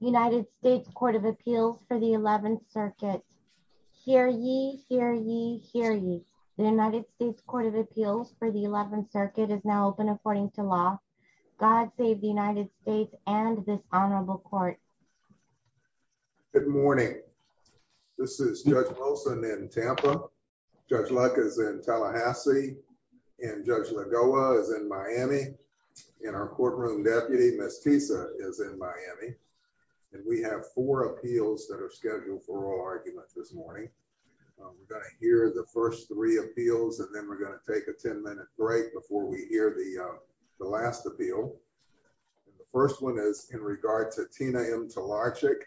United States Court of Appeals for the 11th Circuit. Hear ye, hear ye, hear ye. The United States Court of Appeals for the 11th Circuit is now open according to law. God save the United States and this honorable court. Good morning. This is Judge Wilson in Tampa. Judge Luck is in Tallahassee. And Judge Lagoa is in Miami. And our courtroom deputy, Ms. Tisa, is in Miami. And we have four appeals that are scheduled for oral arguments this morning. We're going to hear the first three appeals and then we're going to take a 10-minute break before we hear the last appeal. The first one is in regard to Tina M. Talarchyk.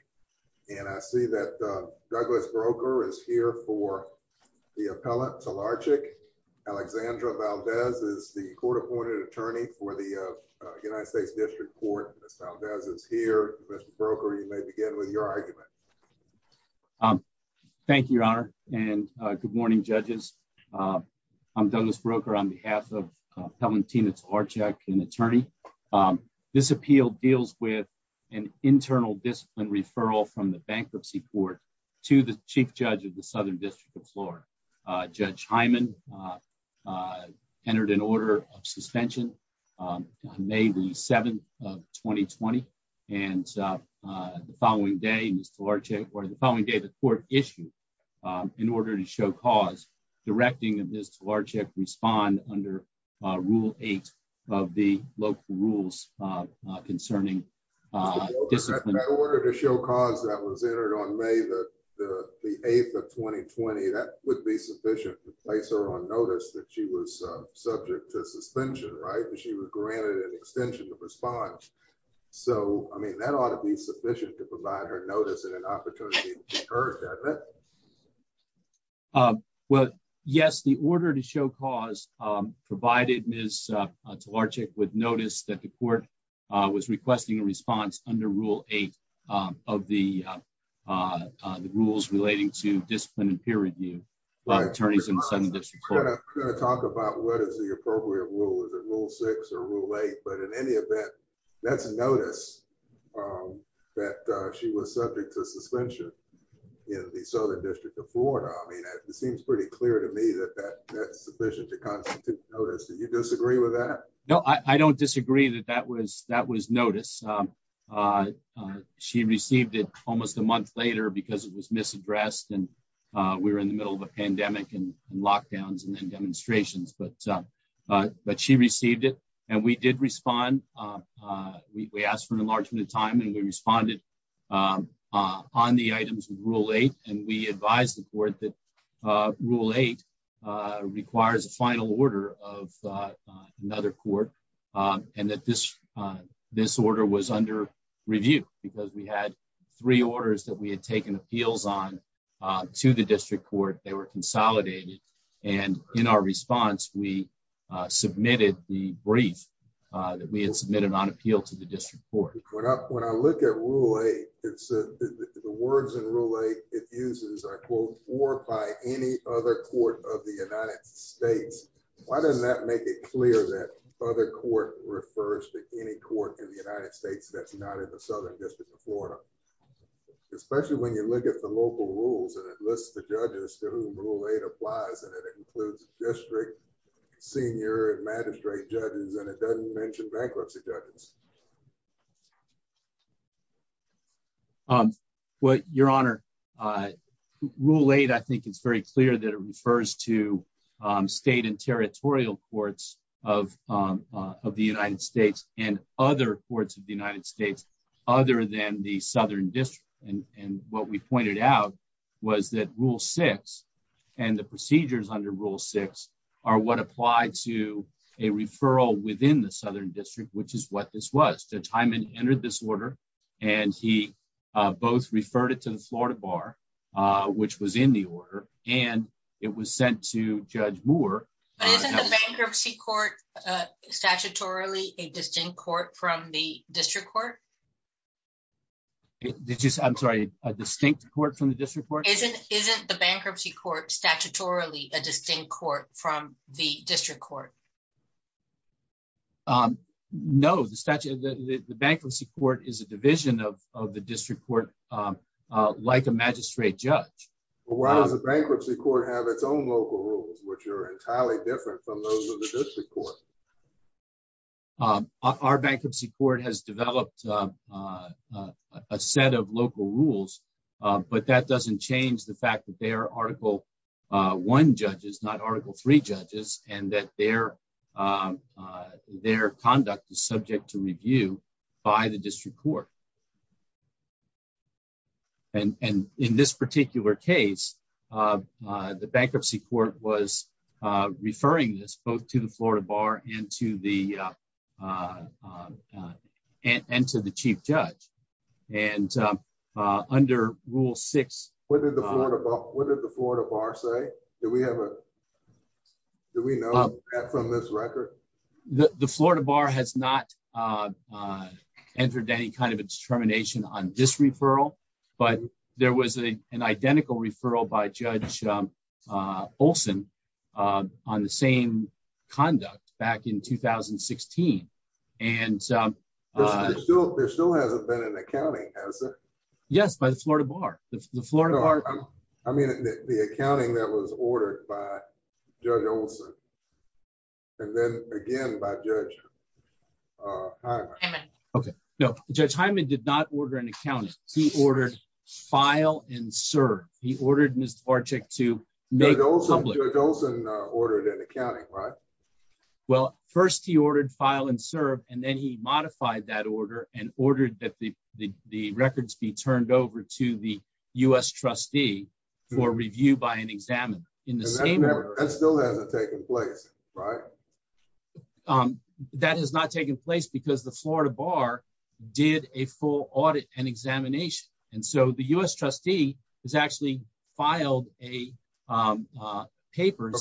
And I see that Douglas Broker is here for the appellant Talarchyk. Alexandra Valdez is the court-appointed attorney for the United States District Court. Ms. Valdez is here. Mr. Broker, you may begin with your argument. Thank you, Your Honor. And good morning, judges. I'm Douglas Broker on behalf of Appellant Tina Talarchyk, an attorney. This appeal deals with an internal discipline referral from the bankruptcy court to the chief of the Southern District of Florida. Judge Hyman entered an order of suspension on May the 7th of 2020. And the following day, Ms. Talarchyk, or the following day, the court issued, in order to show cause, directing Ms. Talarchyk respond under Rule 8 of the local rules concerning discipline. That order to show cause that was entered on May the 8th of 2020, that would be sufficient to place her on notice that she was subject to suspension, right, that she was granted an extension of response. So, I mean, that ought to be sufficient to provide her notice and an opportunity to be heard, doesn't it? Well, yes, the order to show cause provided Ms. Talarchyk would notice that the court was requesting a response under Rule 8 of the rules relating to discipline and peer review by attorneys in the Southern District of Florida. I'm not going to talk about what is the appropriate rule, is it Rule 6 or Rule 8, but in any event, that's a notice that she was subject to suspension in the Southern District of Florida. I mean, it seems pretty clear to me that that's sufficient to constitute notice. Do you disagree with that? No, I don't disagree that that was notice. She received it almost a month later because it was misaddressed and we were in the middle of a pandemic and lockdowns and then demonstrations, but she received it and we did respond. We asked for an enlargement of time and we responded on the items of Rule 8 and we advised the court that Rule 8 requires a final order of another court and that this order was under review because we had three orders that we had taken appeals on to the District Court. They were consolidated and in our response we submitted the brief that we had submitted on appeal to the District Court. When I look at Rule 8, the words it uses are, quote, or by any other court of the United States. Why doesn't that make it clear that other court refers to any court in the United States that's not in the Southern District of Florida, especially when you look at the local rules and it lists the judges to whom Rule 8 applies and it includes district, senior, and magistrate judges and it doesn't mention bankruptcy judges. Your Honor, Rule 8, I think it's very clear that it refers to state and territorial courts of the United States and other courts of the United States other than the Southern District and what we pointed out was that Rule 6 and the procedures under Rule 6 are what apply to a referral within the Southern District, which is what this was. Judge Hyman entered this order and he both referred it to the Florida Bar, which was in the order, and it was sent to Judge Moore. Isn't the bankruptcy court statutorily a distinct court from the District Court? I'm sorry, a distinct court from the District Court? Isn't the bankruptcy court statutorily a distinct court from the District Court? No, the bankruptcy court is a division of the District Court like a magistrate judge. Why does the bankruptcy court have its own local rules, which are entirely different from those of the District Court? Our bankruptcy court has developed a set of local rules, but that doesn't change the fact that there are Article 1 judges, not Article 3 judges, and that their conduct is subject to review by the District Court. In this particular case, the bankruptcy court was referring this both to the Florida Bar and to the Chief Judge. What did the Florida Bar say? Do we know that from this record? The Florida Bar has not entered any kind of a determination on this referral, but there was an identical referral by Judge Olson on the same conduct back in 2016. There still hasn't been an accounting, has there? Yes, by the Florida Bar. I mean, the accounting that was ordered by Judge Olson and then again by Judge Hyman. Okay, no, Judge Hyman did not order an accounting. He ordered file and serve. He ordered Mr. Varchick to make public. Judge Olson ordered an accounting, right? Well, first he ordered file and serve, and then he modified that order and ordered that the records be turned over to the U.S. trustee for review by an examiner in the same order. That still hasn't taken place, right? That has not taken place because the Florida Bar did a full audit and examination, and so the U.S. trustee has actually filed papers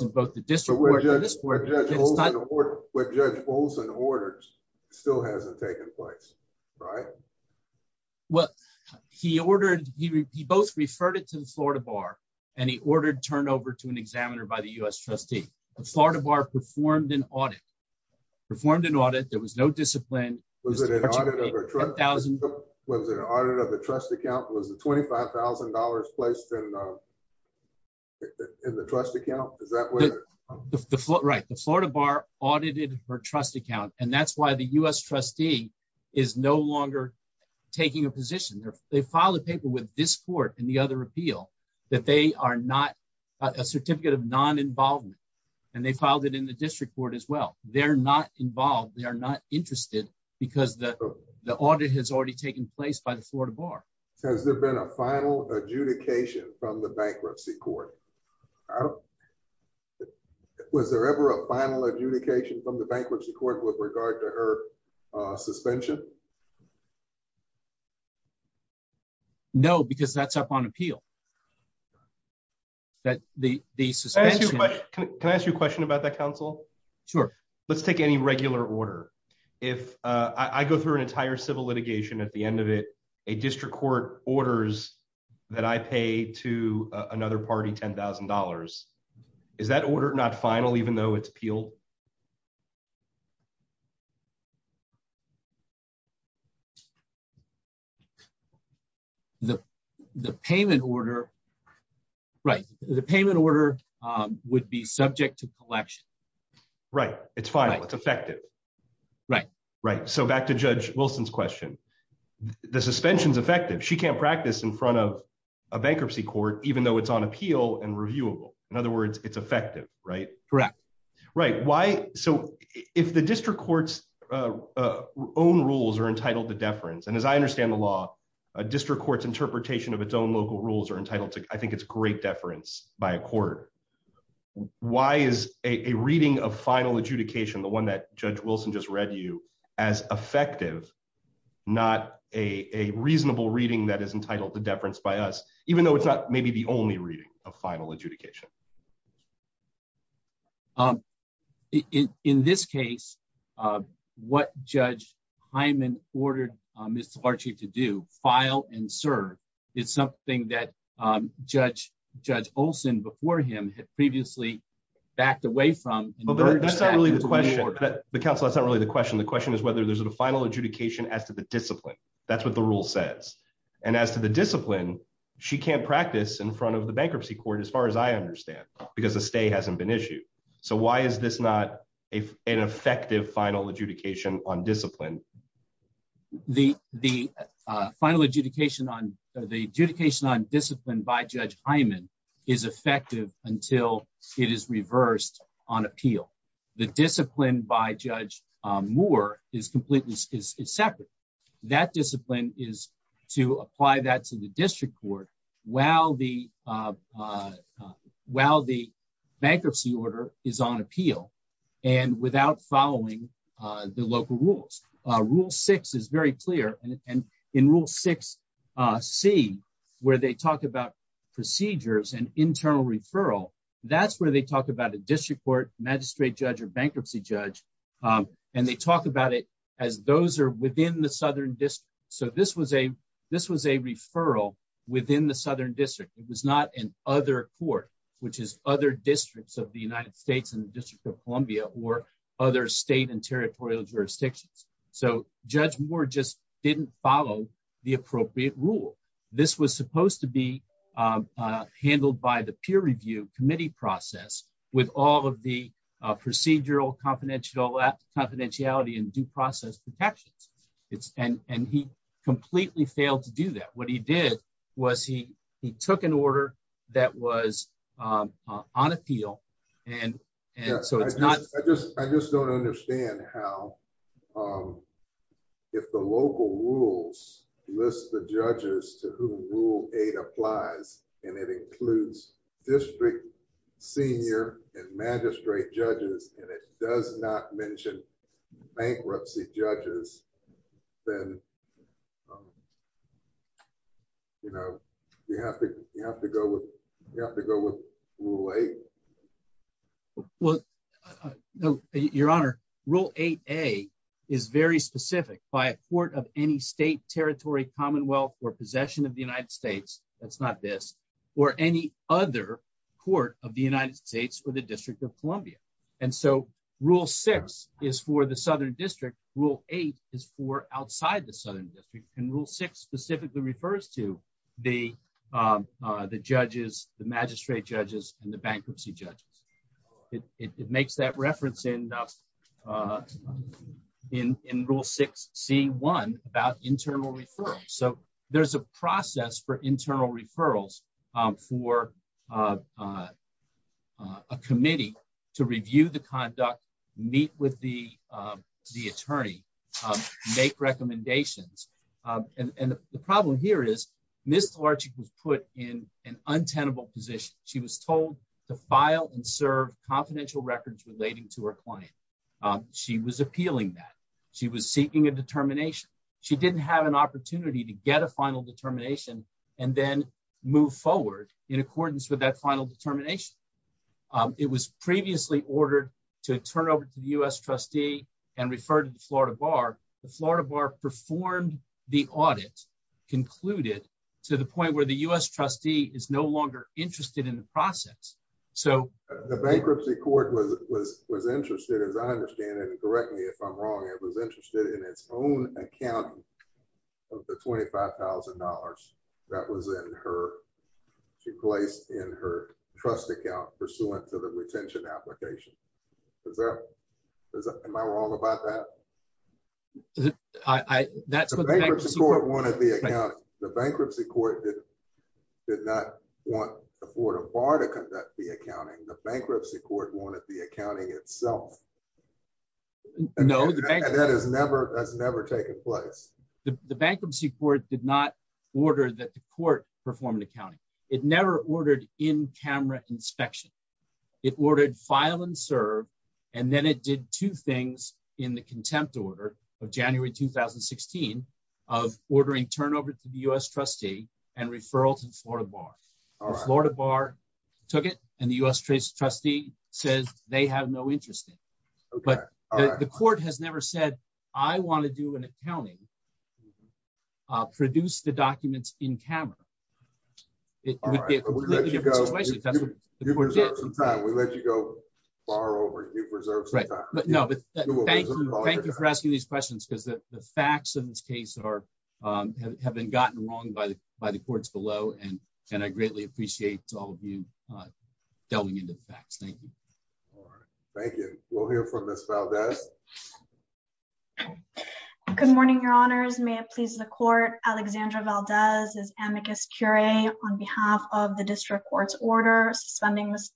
in both the District Court and the District Court. But what Judge Olson ordered still hasn't taken place, right? Well, he both referred it to the Florida Bar, and he ordered turned over to an examiner by the U.S. trustee. The Florida Bar performed an audit. There was no discipline. Was it an audit of the trust account? Was the $25,000 placed in the trust account? The Florida Bar audited her trust account, and that's why the U.S. trustee is no longer taking a position. They filed a paper with this court and the other appeal that they are not a certificate of non-involvement, and they filed it in the District Court as well. They're not involved. They are not interested because the audit has already taken place by the Florida Bar. Has there been a final adjudication from the bankruptcy court? Was there ever a final adjudication from the bankruptcy court with regard to her suspension? No, because that's up on appeal. Can I ask you a question about that, counsel? Sure. Let's take any regular order. If I go through an entire civil litigation, at the end of it, a district court orders that I pay to another party $10,000, is that order not final even though it's appealed? The payment order would be subject to collection. Right. It's final. It's effective. Right. So back to Judge Wilson's question, the suspension is effective. She can't practice in front of a bankruptcy court even though it's on appeal and reviewable. In other words, it's effective, right? Correct. Right. So if the district court's own rules are entitled to deference, and as I understand the law, a district court's interpretation of its own local rules are entitled to, I think it's great deference by a court, why is a reading of final adjudication, the one that Judge Wilson just read as effective, not a reasonable reading that is entitled to deference by us, even though it's not maybe the only reading of final adjudication? In this case, what Judge Hyman ordered Mr. Varchie to do, file and serve, is something that Judge Olson before him had previously backed away from. That's not really the question, but counsel, that's not really the question. The question is whether there's a final adjudication as to the discipline. That's what the rule says. And as to the discipline, she can't practice in front of the bankruptcy court, as far as I understand, because a stay hasn't been issued. So why is this not an effective final adjudication on discipline? The final adjudication on, the adjudication on discipline by Judge Hyman is effective until it is reversed on appeal. The discipline by Judge Moore is completely separate. That discipline is to apply that to the district court while the bankruptcy order is on appeal and without following the local rules. Rule six is very clear. And in rule 6C, where they talk about procedures and internal referral, that's where they talk about a district court, magistrate judge or bankruptcy judge. And they talk about it as those are within the southern district. So this was a referral within the southern district. It was not an other court, which is other districts of the United States and the District of Columbia or other state and territorial jurisdictions. So Judge Moore just didn't follow the appropriate rule. This was supposed to be handled by the peer review committee process with all of the procedural confidentiality and due process protections. And he completely failed to do that. What he did was he took an order that was on appeal. And so it's not... I just don't understand how if the local rules list the judges to whom rule eight applies, and it includes district, senior and magistrate judges, and it rule eight. Well, your honor, rule 8A is very specific by a court of any state, territory, commonwealth or possession of the United States. That's not this. Or any other court of the United States or the District of Columbia. And so rule six is for the southern district. Rule eight is for outside the southern district. And rule six specifically refers to the judges, the magistrate judges and the bankruptcy judges. It makes that reference in rule 6C1 about internal referrals. So there's a process for internal referrals for a committee to review the conduct, meet with the attorney, make recommendations. And the problem here is Ms. Tlarchik was put in an untenable position. She was told to file and serve confidential records relating to her client. She was appealing that. She was seeking a determination. She didn't have an opportunity to get a final determination and then move forward in accordance with that final determination. It was previously ordered to turn over to the U.S. trustee and refer to the Florida Bar. The Florida Bar performed the audit, concluded, to the point where the U.S. trustee is no longer interested in the process. The bankruptcy court was interested, as I understand it, and correct me if I'm wrong, it was interested in its own accounting of the $25,000 that she placed in her trust account pursuant to the retention application. Am I wrong about that? The bankruptcy court did not want the Florida Bar to conduct the accounting. The bankruptcy court wanted the accounting itself. And that has never taken place. The bankruptcy court did not order that the court perform the accounting. It never ordered in-camera inspection. It ordered file and serve, and then it did two things in the contempt order of January 2016 of ordering turnover to the U.S. trustee and referral to the Florida Bar. The Florida Bar took it, and the U.S. trustee says they have no interest in it. But the court has said that. Thank you for asking these questions, because the facts of this case have been gotten wrong by the courts below. And I greatly appreciate all of you delving into the facts. Thank you. Thank you. We'll hear from Ms. Valdez. Good morning, your honors. May it please the court, Alexandra Valdez is amicus curiae on behalf of the district court's order suspending Ms.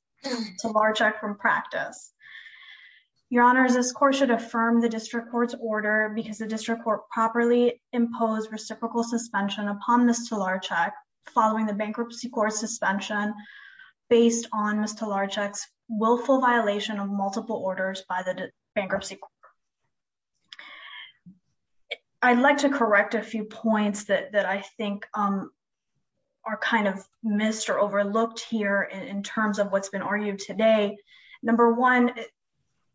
Talarczyk from practice. Your honors, this court should affirm the district court's order because the district court properly imposed reciprocal suspension upon Ms. Talarczyk following the bankruptcy court suspension based on Ms. Talarczyk's willful violation of multiple orders by the bankruptcy court. I'd like to correct a few points that I think are kind of missed or overlooked here in terms of what's been argued today. Number one,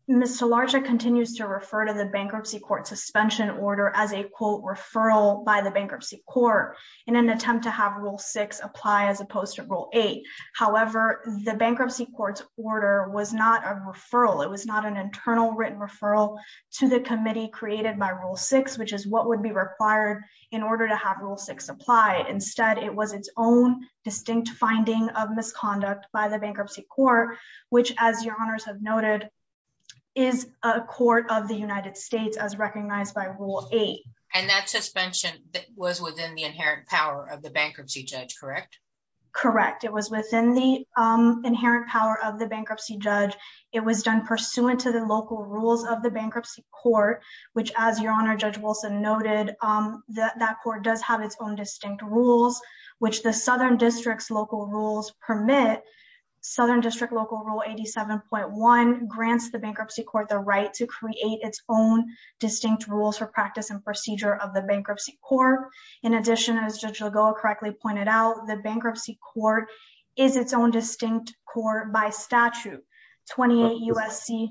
Ms. Talarczyk continues to refer to the bankruptcy court suspension order as a quote referral by the bankruptcy court in an attempt to have rule six apply as opposed to rule eight. However, the bankruptcy court's order was not a referral. It was not an internal written referral to the committee created by rule six, which is what would be required in order to have rule six apply. Instead, it was its own distinct finding of misconduct by the bankruptcy court, which as your honors have noted, is a court of the United States as recognized by rule eight. And that suspension was within the inherent power of the bankruptcy judge, correct? Correct. It was within the inherent power of the bankruptcy judge. It was done pursuant to the local rules of the bankruptcy court, which as your honor, Judge Wilson noted, that court does have its own distinct rules, which the southern district's local rules permit. Southern district local rule 87.1 grants the bankruptcy court the right to create its own distinct rules for practice and procedure of the bankruptcy court. In addition, as Judge Lagoa correctly pointed out, the bankruptcy court is its own distinct court by 28 USC.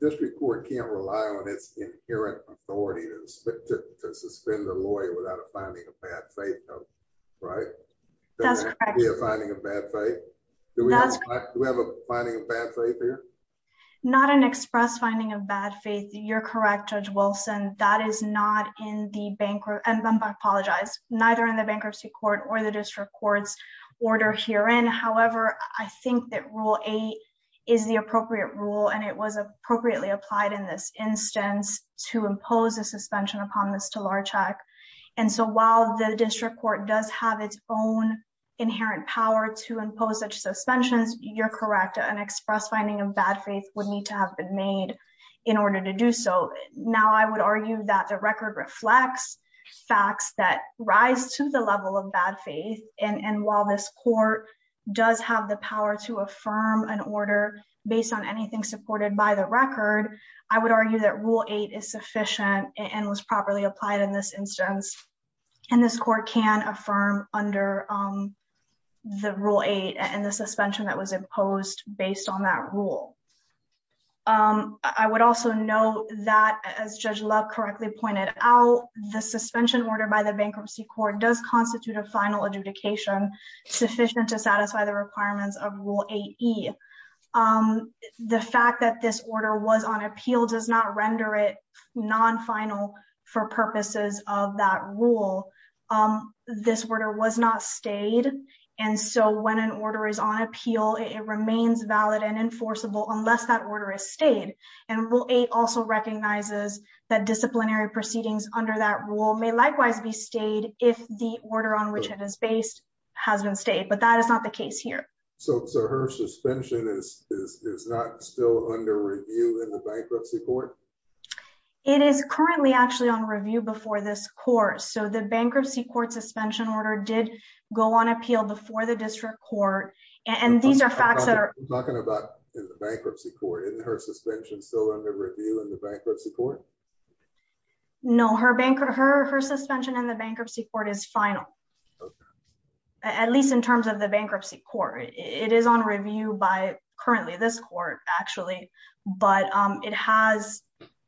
District court can't rely on its inherent authority to suspend a lawyer without a finding of bad faith, right? That's correct. Do we have a finding of bad faith here? Not an express finding of bad faith. You're correct, Judge Wilson. That is not in the bankruptcy, and I apologize, neither in the bankruptcy court or the district court's order herein. However, I think that rule eight is the appropriate rule, and it was appropriately applied in this instance to impose a suspension upon this to large check. And so while the district court does have its own inherent power to impose such suspensions, you're correct, an express finding of bad faith would need to have been made in order to do so. Now I would argue that the record reflects facts that rise to the level of bad faith, and while this court does have the power to affirm an order based on anything supported by the record, I would argue that rule eight is sufficient and was properly applied in this instance, and this court can affirm under the rule eight and the suspension that was imposed based on that rule. I would also note that as Judge Love correctly pointed out, the suspension order by the bankruptcy court does constitute a final adjudication sufficient to satisfy the requirements of rule eight E. The fact that this order was on appeal does not render it non-final for purposes of that rule. This order was not stayed, and so when an order is on appeal, it remains valid and enforceable unless that order is stayed. And rule eight also recognizes that disciplinary proceedings under that rule may likewise be stayed if the order on which it is based has been stayed, but that is not the case here. So her suspension is not still under review in the bankruptcy court? It is currently actually on review before this court. So the bankruptcy court suspension order did go on appeal before the district court, and these are facts that are- I'm talking about in the bankruptcy court. Isn't her suspension still under review in the bankruptcy court? No, her suspension in the bankruptcy court is final, at least in terms of the bankruptcy court. It is on review by currently this court actually, but it has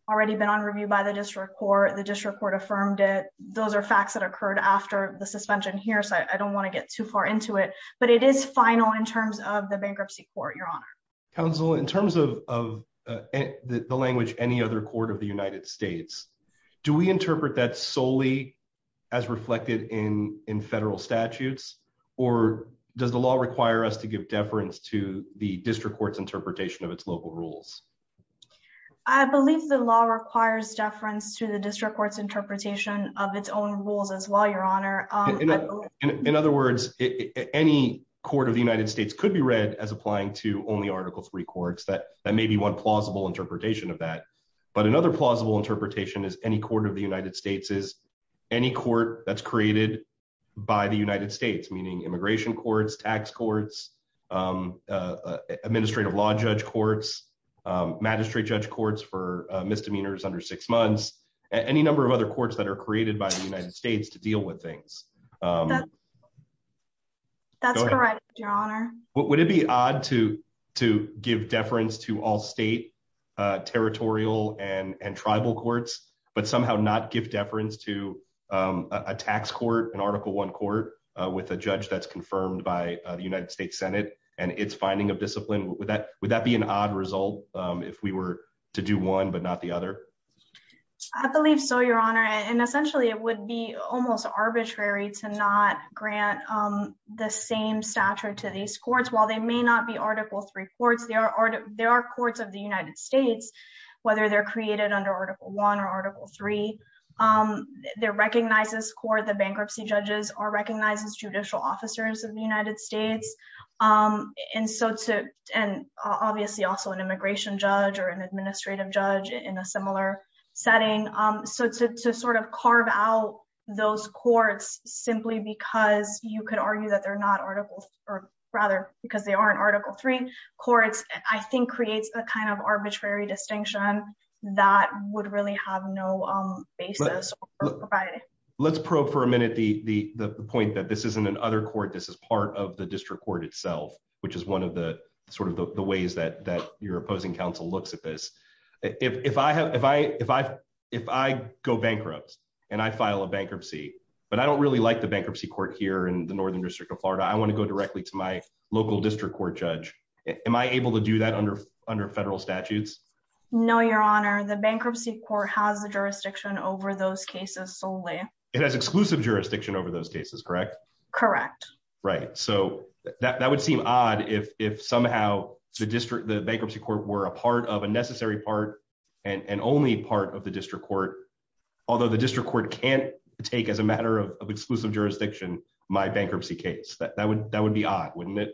already been on review by the district court. The district court affirmed it. Those are facts that occurred after the suspension here, so I don't want to get too far into it, but it is final in terms of the bankruptcy court, Your Honor. Counsel, in terms of the language, any other court of the United States, do we interpret that solely as reflected in federal statutes, or does the law require us to give deference to the district court's interpretation of its local rules? I believe the law requires deference to the district court's interpretation of its own rules as well, Your Honor. In other words, any court of the United States could be read as applying to only Article III courts. That may be one plausible interpretation of that, but another plausible interpretation is any court of the United States is any court that's created by the United States, meaning immigration courts, tax courts, administrative law judge courts, magistrate judge courts for misdemeanors under six months, any number of courts that are created by the United States to deal with things. That's correct, Your Honor. Would it be odd to give deference to all state, territorial, and tribal courts, but somehow not give deference to a tax court, an Article I court with a judge that's confirmed by the United States Senate and its finding of discipline? Would that be an odd result if we were to do one but not the other? I believe so, Your Honor, and essentially it would be almost arbitrary to not grant the same stature to these courts. While they may not be Article III courts, they are courts of the United States, whether they're created under Article I or Article III. They're recognized as court, the bankruptcy judges are recognized as judicial officers of the United States, and obviously also an immigration judge or an administrative judge in a similar setting. So to sort of carve out those courts simply because you could argue that they're not Article III, or rather because they aren't Article III courts, I think creates a kind of arbitrary distinction that would really have no basis. Let's probe for a minute the point that this isn't an other court, this is part of the district court itself, which is one of the sort of the ways that your opposing counsel looks at this. If I go bankrupt, and I file a bankruptcy, but I don't really like the bankruptcy court here in the Northern District of Florida, I want to go directly to my local district court judge. Am I able to do that under federal statutes? No, Your Honor, the bankruptcy court has the jurisdiction over those cases solely. It has exclusive jurisdiction over those cases, correct? Correct. Right, so that would seem odd if somehow the bankruptcy court were a part of, a necessary part, and only part of the district court, although the district court can't take as a matter of exclusive jurisdiction my bankruptcy case. That would be odd, wouldn't it?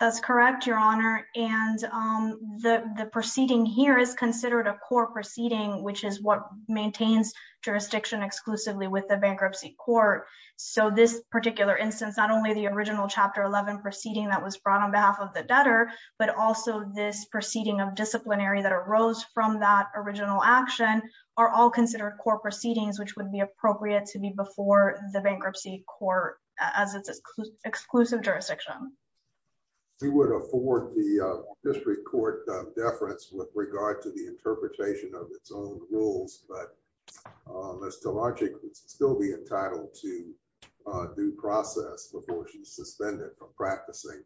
That's correct, Your Honor, and the proceeding here is considered a core proceeding, which is what maintains jurisdiction exclusively with the bankruptcy court. So this particular instance, not only the original Chapter 11 proceeding that was brought on behalf of the debtor, but also this proceeding of disciplinary that arose from that original action, are all considered core proceedings, which would be appropriate to be before the bankruptcy court as its exclusive jurisdiction. We would afford the district court deference with regard to the interpretation of its own rules, but Ms. Talarczyk would still be entitled to due process before she's suspended from practicing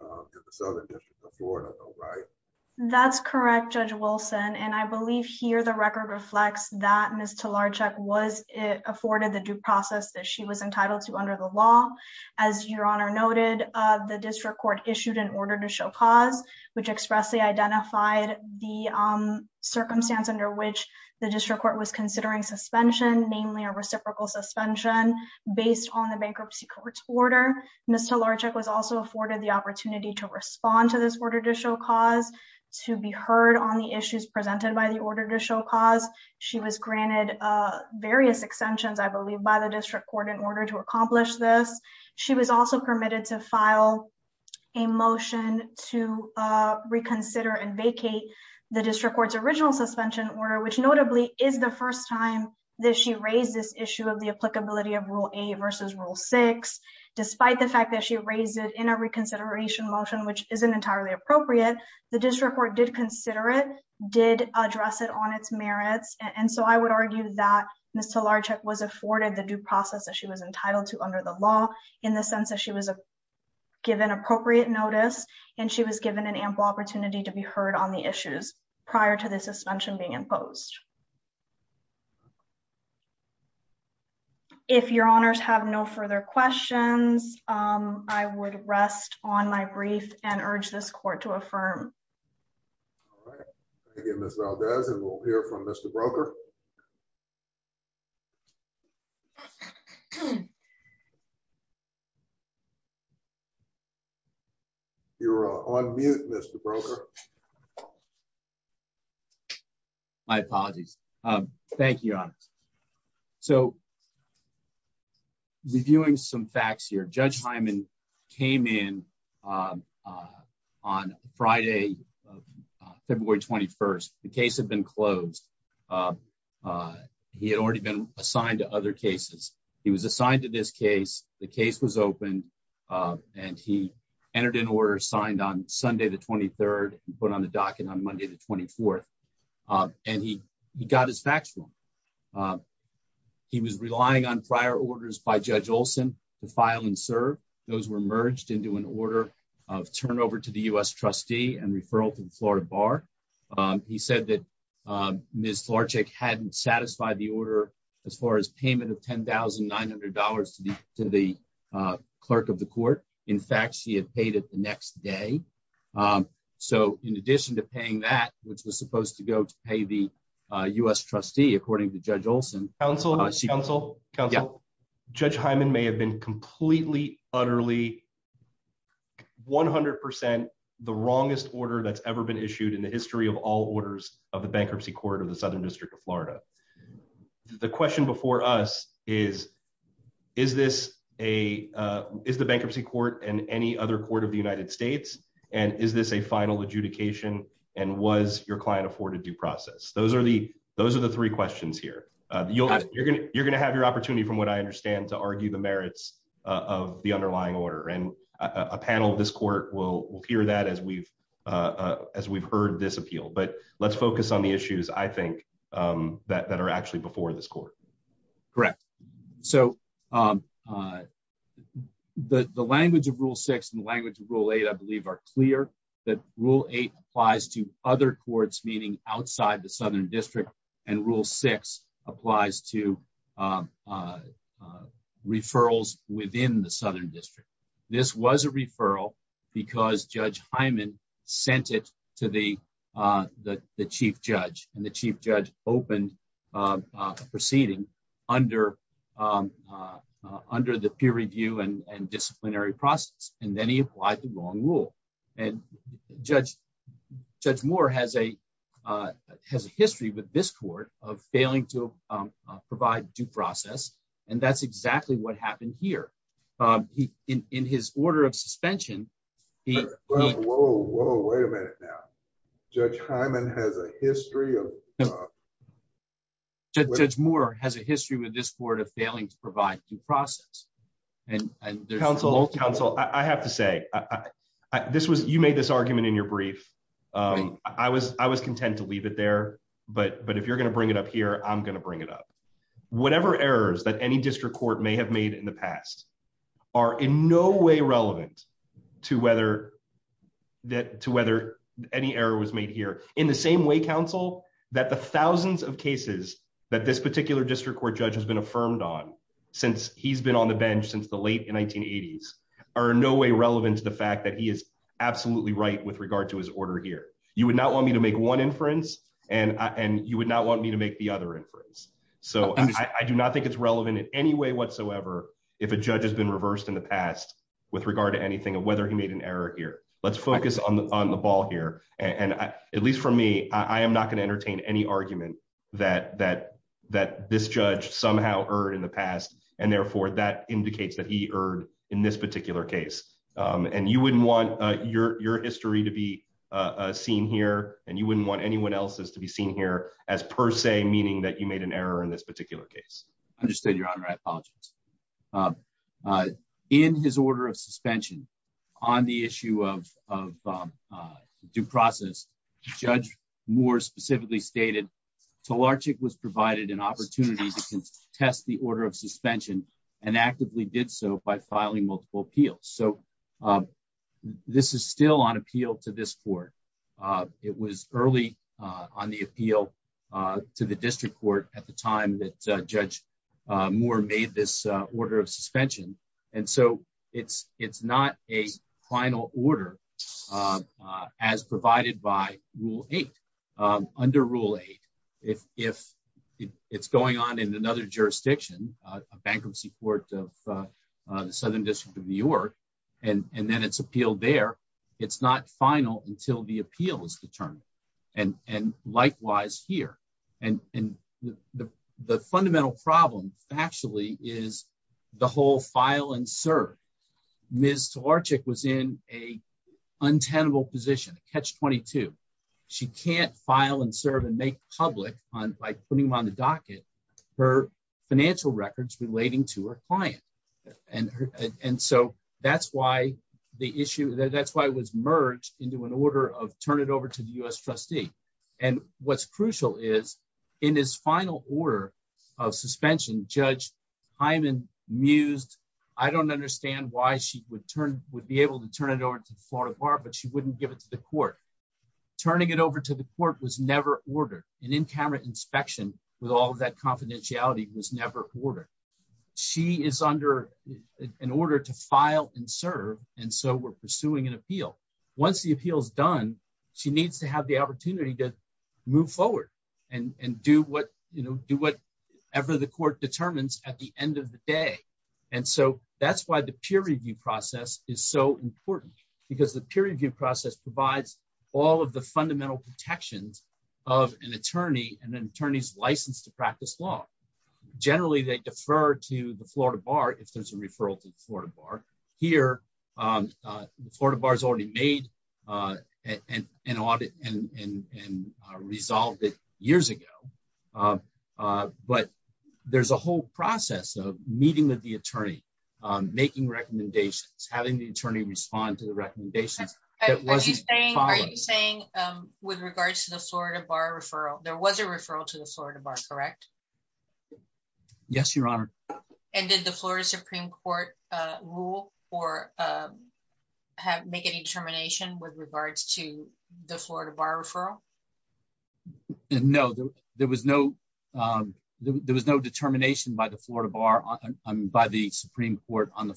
in the Southern District of Florida, right? That's correct, Judge Wilson, and I believe here the record reflects that Ms. Talarczyk was afforded the due process that she was entitled to under the law. As Your Honor noted, the district court issued an order to show cause, which expressly identified the circumstance under which the district court was considering suspension, namely a reciprocal suspension based on the bankruptcy court's order. Ms. Talarczyk was also afforded the opportunity to respond to this order to show cause, to be heard on the issues presented by the order to show cause. She was granted various extensions, I believe, by the district court in order to accomplish this. She was also to file a motion to reconsider and vacate the district court's original suspension order, which notably is the first time that she raised this issue of the applicability of Rule A versus Rule 6. Despite the fact that she raised it in a reconsideration motion, which isn't entirely appropriate, the district court did consider it, did address it on its merits, and so I would argue that Ms. Talarczyk was afforded the due process that she was entitled to under the law in the given appropriate notice, and she was given an ample opportunity to be heard on the issues prior to the suspension being imposed. If Your Honors have no further questions, I would rest on my brief and urge this court to affirm. All right. Thank you, Ms. Valdez, and we'll hear from Mr. Broker. You're on mute, Mr. Broker. My apologies. Thank you, Your Honors. So, reviewing some facts here, Judge Hyman came in on Friday, February 21st. The case had been closed. He had already been assigned to other and he entered an order signed on Sunday the 23rd and put on the docket on Monday the 24th, and he got his facts from him. He was relying on prior orders by Judge Olson to file and serve. Those were merged into an order of turnover to the U.S. trustee and referral to the Florida Bar. He said that Ms. Talarczyk hadn't satisfied the order as far as payment of $10,900 to the clerk of the court. In fact, she had paid it the next day. So, in addition to paying that, which was supposed to go to pay the U.S. trustee, according to Judge Olson... Counsel? Counsel? Counsel? Judge Hyman may have been completely, utterly, 100% the wrongest order that's ever been issued in the history of all orders of the bankruptcy court of the Southern District of Florida. The question before us is, is the bankruptcy court and any other court of the United States, and is this a final adjudication, and was your client afforded due process? Those are the three questions here. You're going to have your opportunity, from what I understand, to argue the merits of the underlying order, and a panel of will hear that as we've heard this appeal. But let's focus on the issues, I think, that are actually before this court. Correct. So, the language of Rule 6 and the language of Rule 8, I believe, are clear, that Rule 8 applies to other courts, meaning outside the Southern District, and Rule 6 applies to referrals within the Southern District. This was a referral because Judge Hyman sent it to the Chief Judge, and the Chief Judge opened a proceeding under the peer review and disciplinary process, and then he applied the wrong rule. And Judge Moore has a failing to provide due process, and that's exactly what happened here. In his order of suspension, Whoa, whoa, wait a minute now. Judge Hyman has a history of... Judge Moore has a history with this court of failing to provide due process. I have to say, you made this argument in your brief. I was content to leave it there, but if you're going to bring it up here, I'm going to bring it up. Whatever errors that any district court may have made in the past are in no way relevant to whether any error was made here, in the same way, counsel, that the thousands of cases that this particular district court judge has been affirmed on, since he's been on the bench since the late 1980s, are in no way relevant to the fact that he is absolutely right with regard to his order here. You would not want me to make one inference, and you would not want me to make the other inference. So I do not think it's relevant in any way whatsoever if a judge has been reversed in the past with regard to anything of whether he made an error here. Let's focus on the ball here. And at least for me, I am not going to entertain any argument that this judge somehow erred in the past, and therefore that indicates that he erred in this particular case. And you wouldn't want your history to be seen here, and you wouldn't want anyone else's to be seen here as per se, meaning that you made an error in this particular case. Understood, your honor. I apologize. In his order of suspension on the issue of due process, Judge Moore specifically stated, Talarchic was provided an opportunity to test the order of suspension and actively did so by filing multiple appeals. So this is still on appeal to this court. It was early on the appeal to the district court at the time that Judge Moore made this order of suspension. And so it's not a final order as provided by Rule 8. Under Rule 8, if it's going on in another jurisdiction, a bankruptcy court of Southern District of New York, and then it's appealed there, it's not final until the appeal is determined. And likewise here. And the fundamental problem actually is the whole file and serve. Ms. Talarchic was in a untenable position, a catch-22. She can't file and serve and make public, by putting them on the docket, her financial records relating to her client. And so that's why the issue, that's why it was merged into an order of turn it over to the U.S. trustee. And what's crucial is in his final order of suspension, Judge Hyman mused, I don't understand why she would turn, would be able to turn it over to the Florida Bar, but she wouldn't give it to the court. Turning it over to the court was never ordered. An in-camera inspection with that confidentiality was never ordered. She is under an order to file and serve, and so we're pursuing an appeal. Once the appeal is done, she needs to have the opportunity to move forward and do whatever the court determines at the end of the day. And so that's why the peer review process is so important. Because the peer review process provides all of the fundamental protections of an attorney and an attorney's license to practice law. Generally, they defer to the Florida Bar if there's a referral to the Florida Bar. Here, the Florida Bar has already made an audit and resolved it years ago. But there's a whole process of meeting with the attorney, making recommendations, having the attorney respond to the recommendations. Are you saying with regards to the Florida Bar referral, there was a referral to the Florida Bar, correct? Yes, Your Honor. And did the Florida Supreme Court rule or make any determination with regards to the Florida Bar referral? No, there was no determination by the Supreme Court on the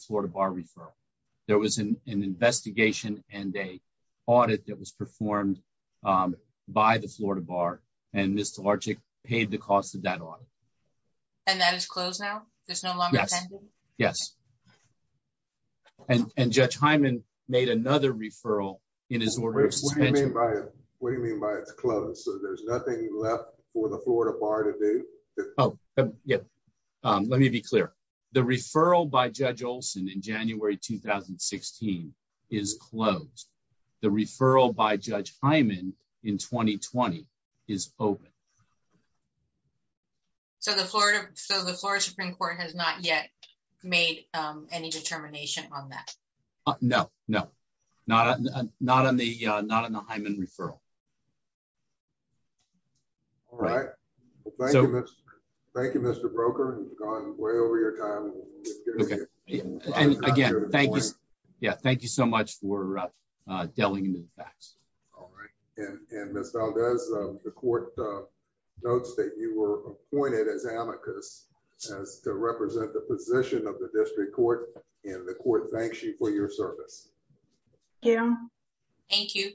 audit that was performed by the Florida Bar, and Ms. Tlarczyk paid the cost of that audit. And that is closed now? There's no longer pending? Yes. And Judge Hyman made another referral in his order of suspension. What do you mean by it's closed? So there's nothing left for the Florida Bar to do? Oh, yeah. Let me be clear. The referral by Judge Olson in January 2016 is closed. The referral by Judge Hyman in 2020 is open. So the Florida Supreme Court has not yet made any determination on that? No, no, not on the Hyman referral. All right. Thank you, Mr. Broker. You've gone way over your time. Okay. And again, thank you. Yeah, thank you so much for delving into the facts. All right. And Ms. Valdez, the court notes that you were appointed as amicus as to represent the position of the district court, and the court thanks you for your service. Yeah. Thank you.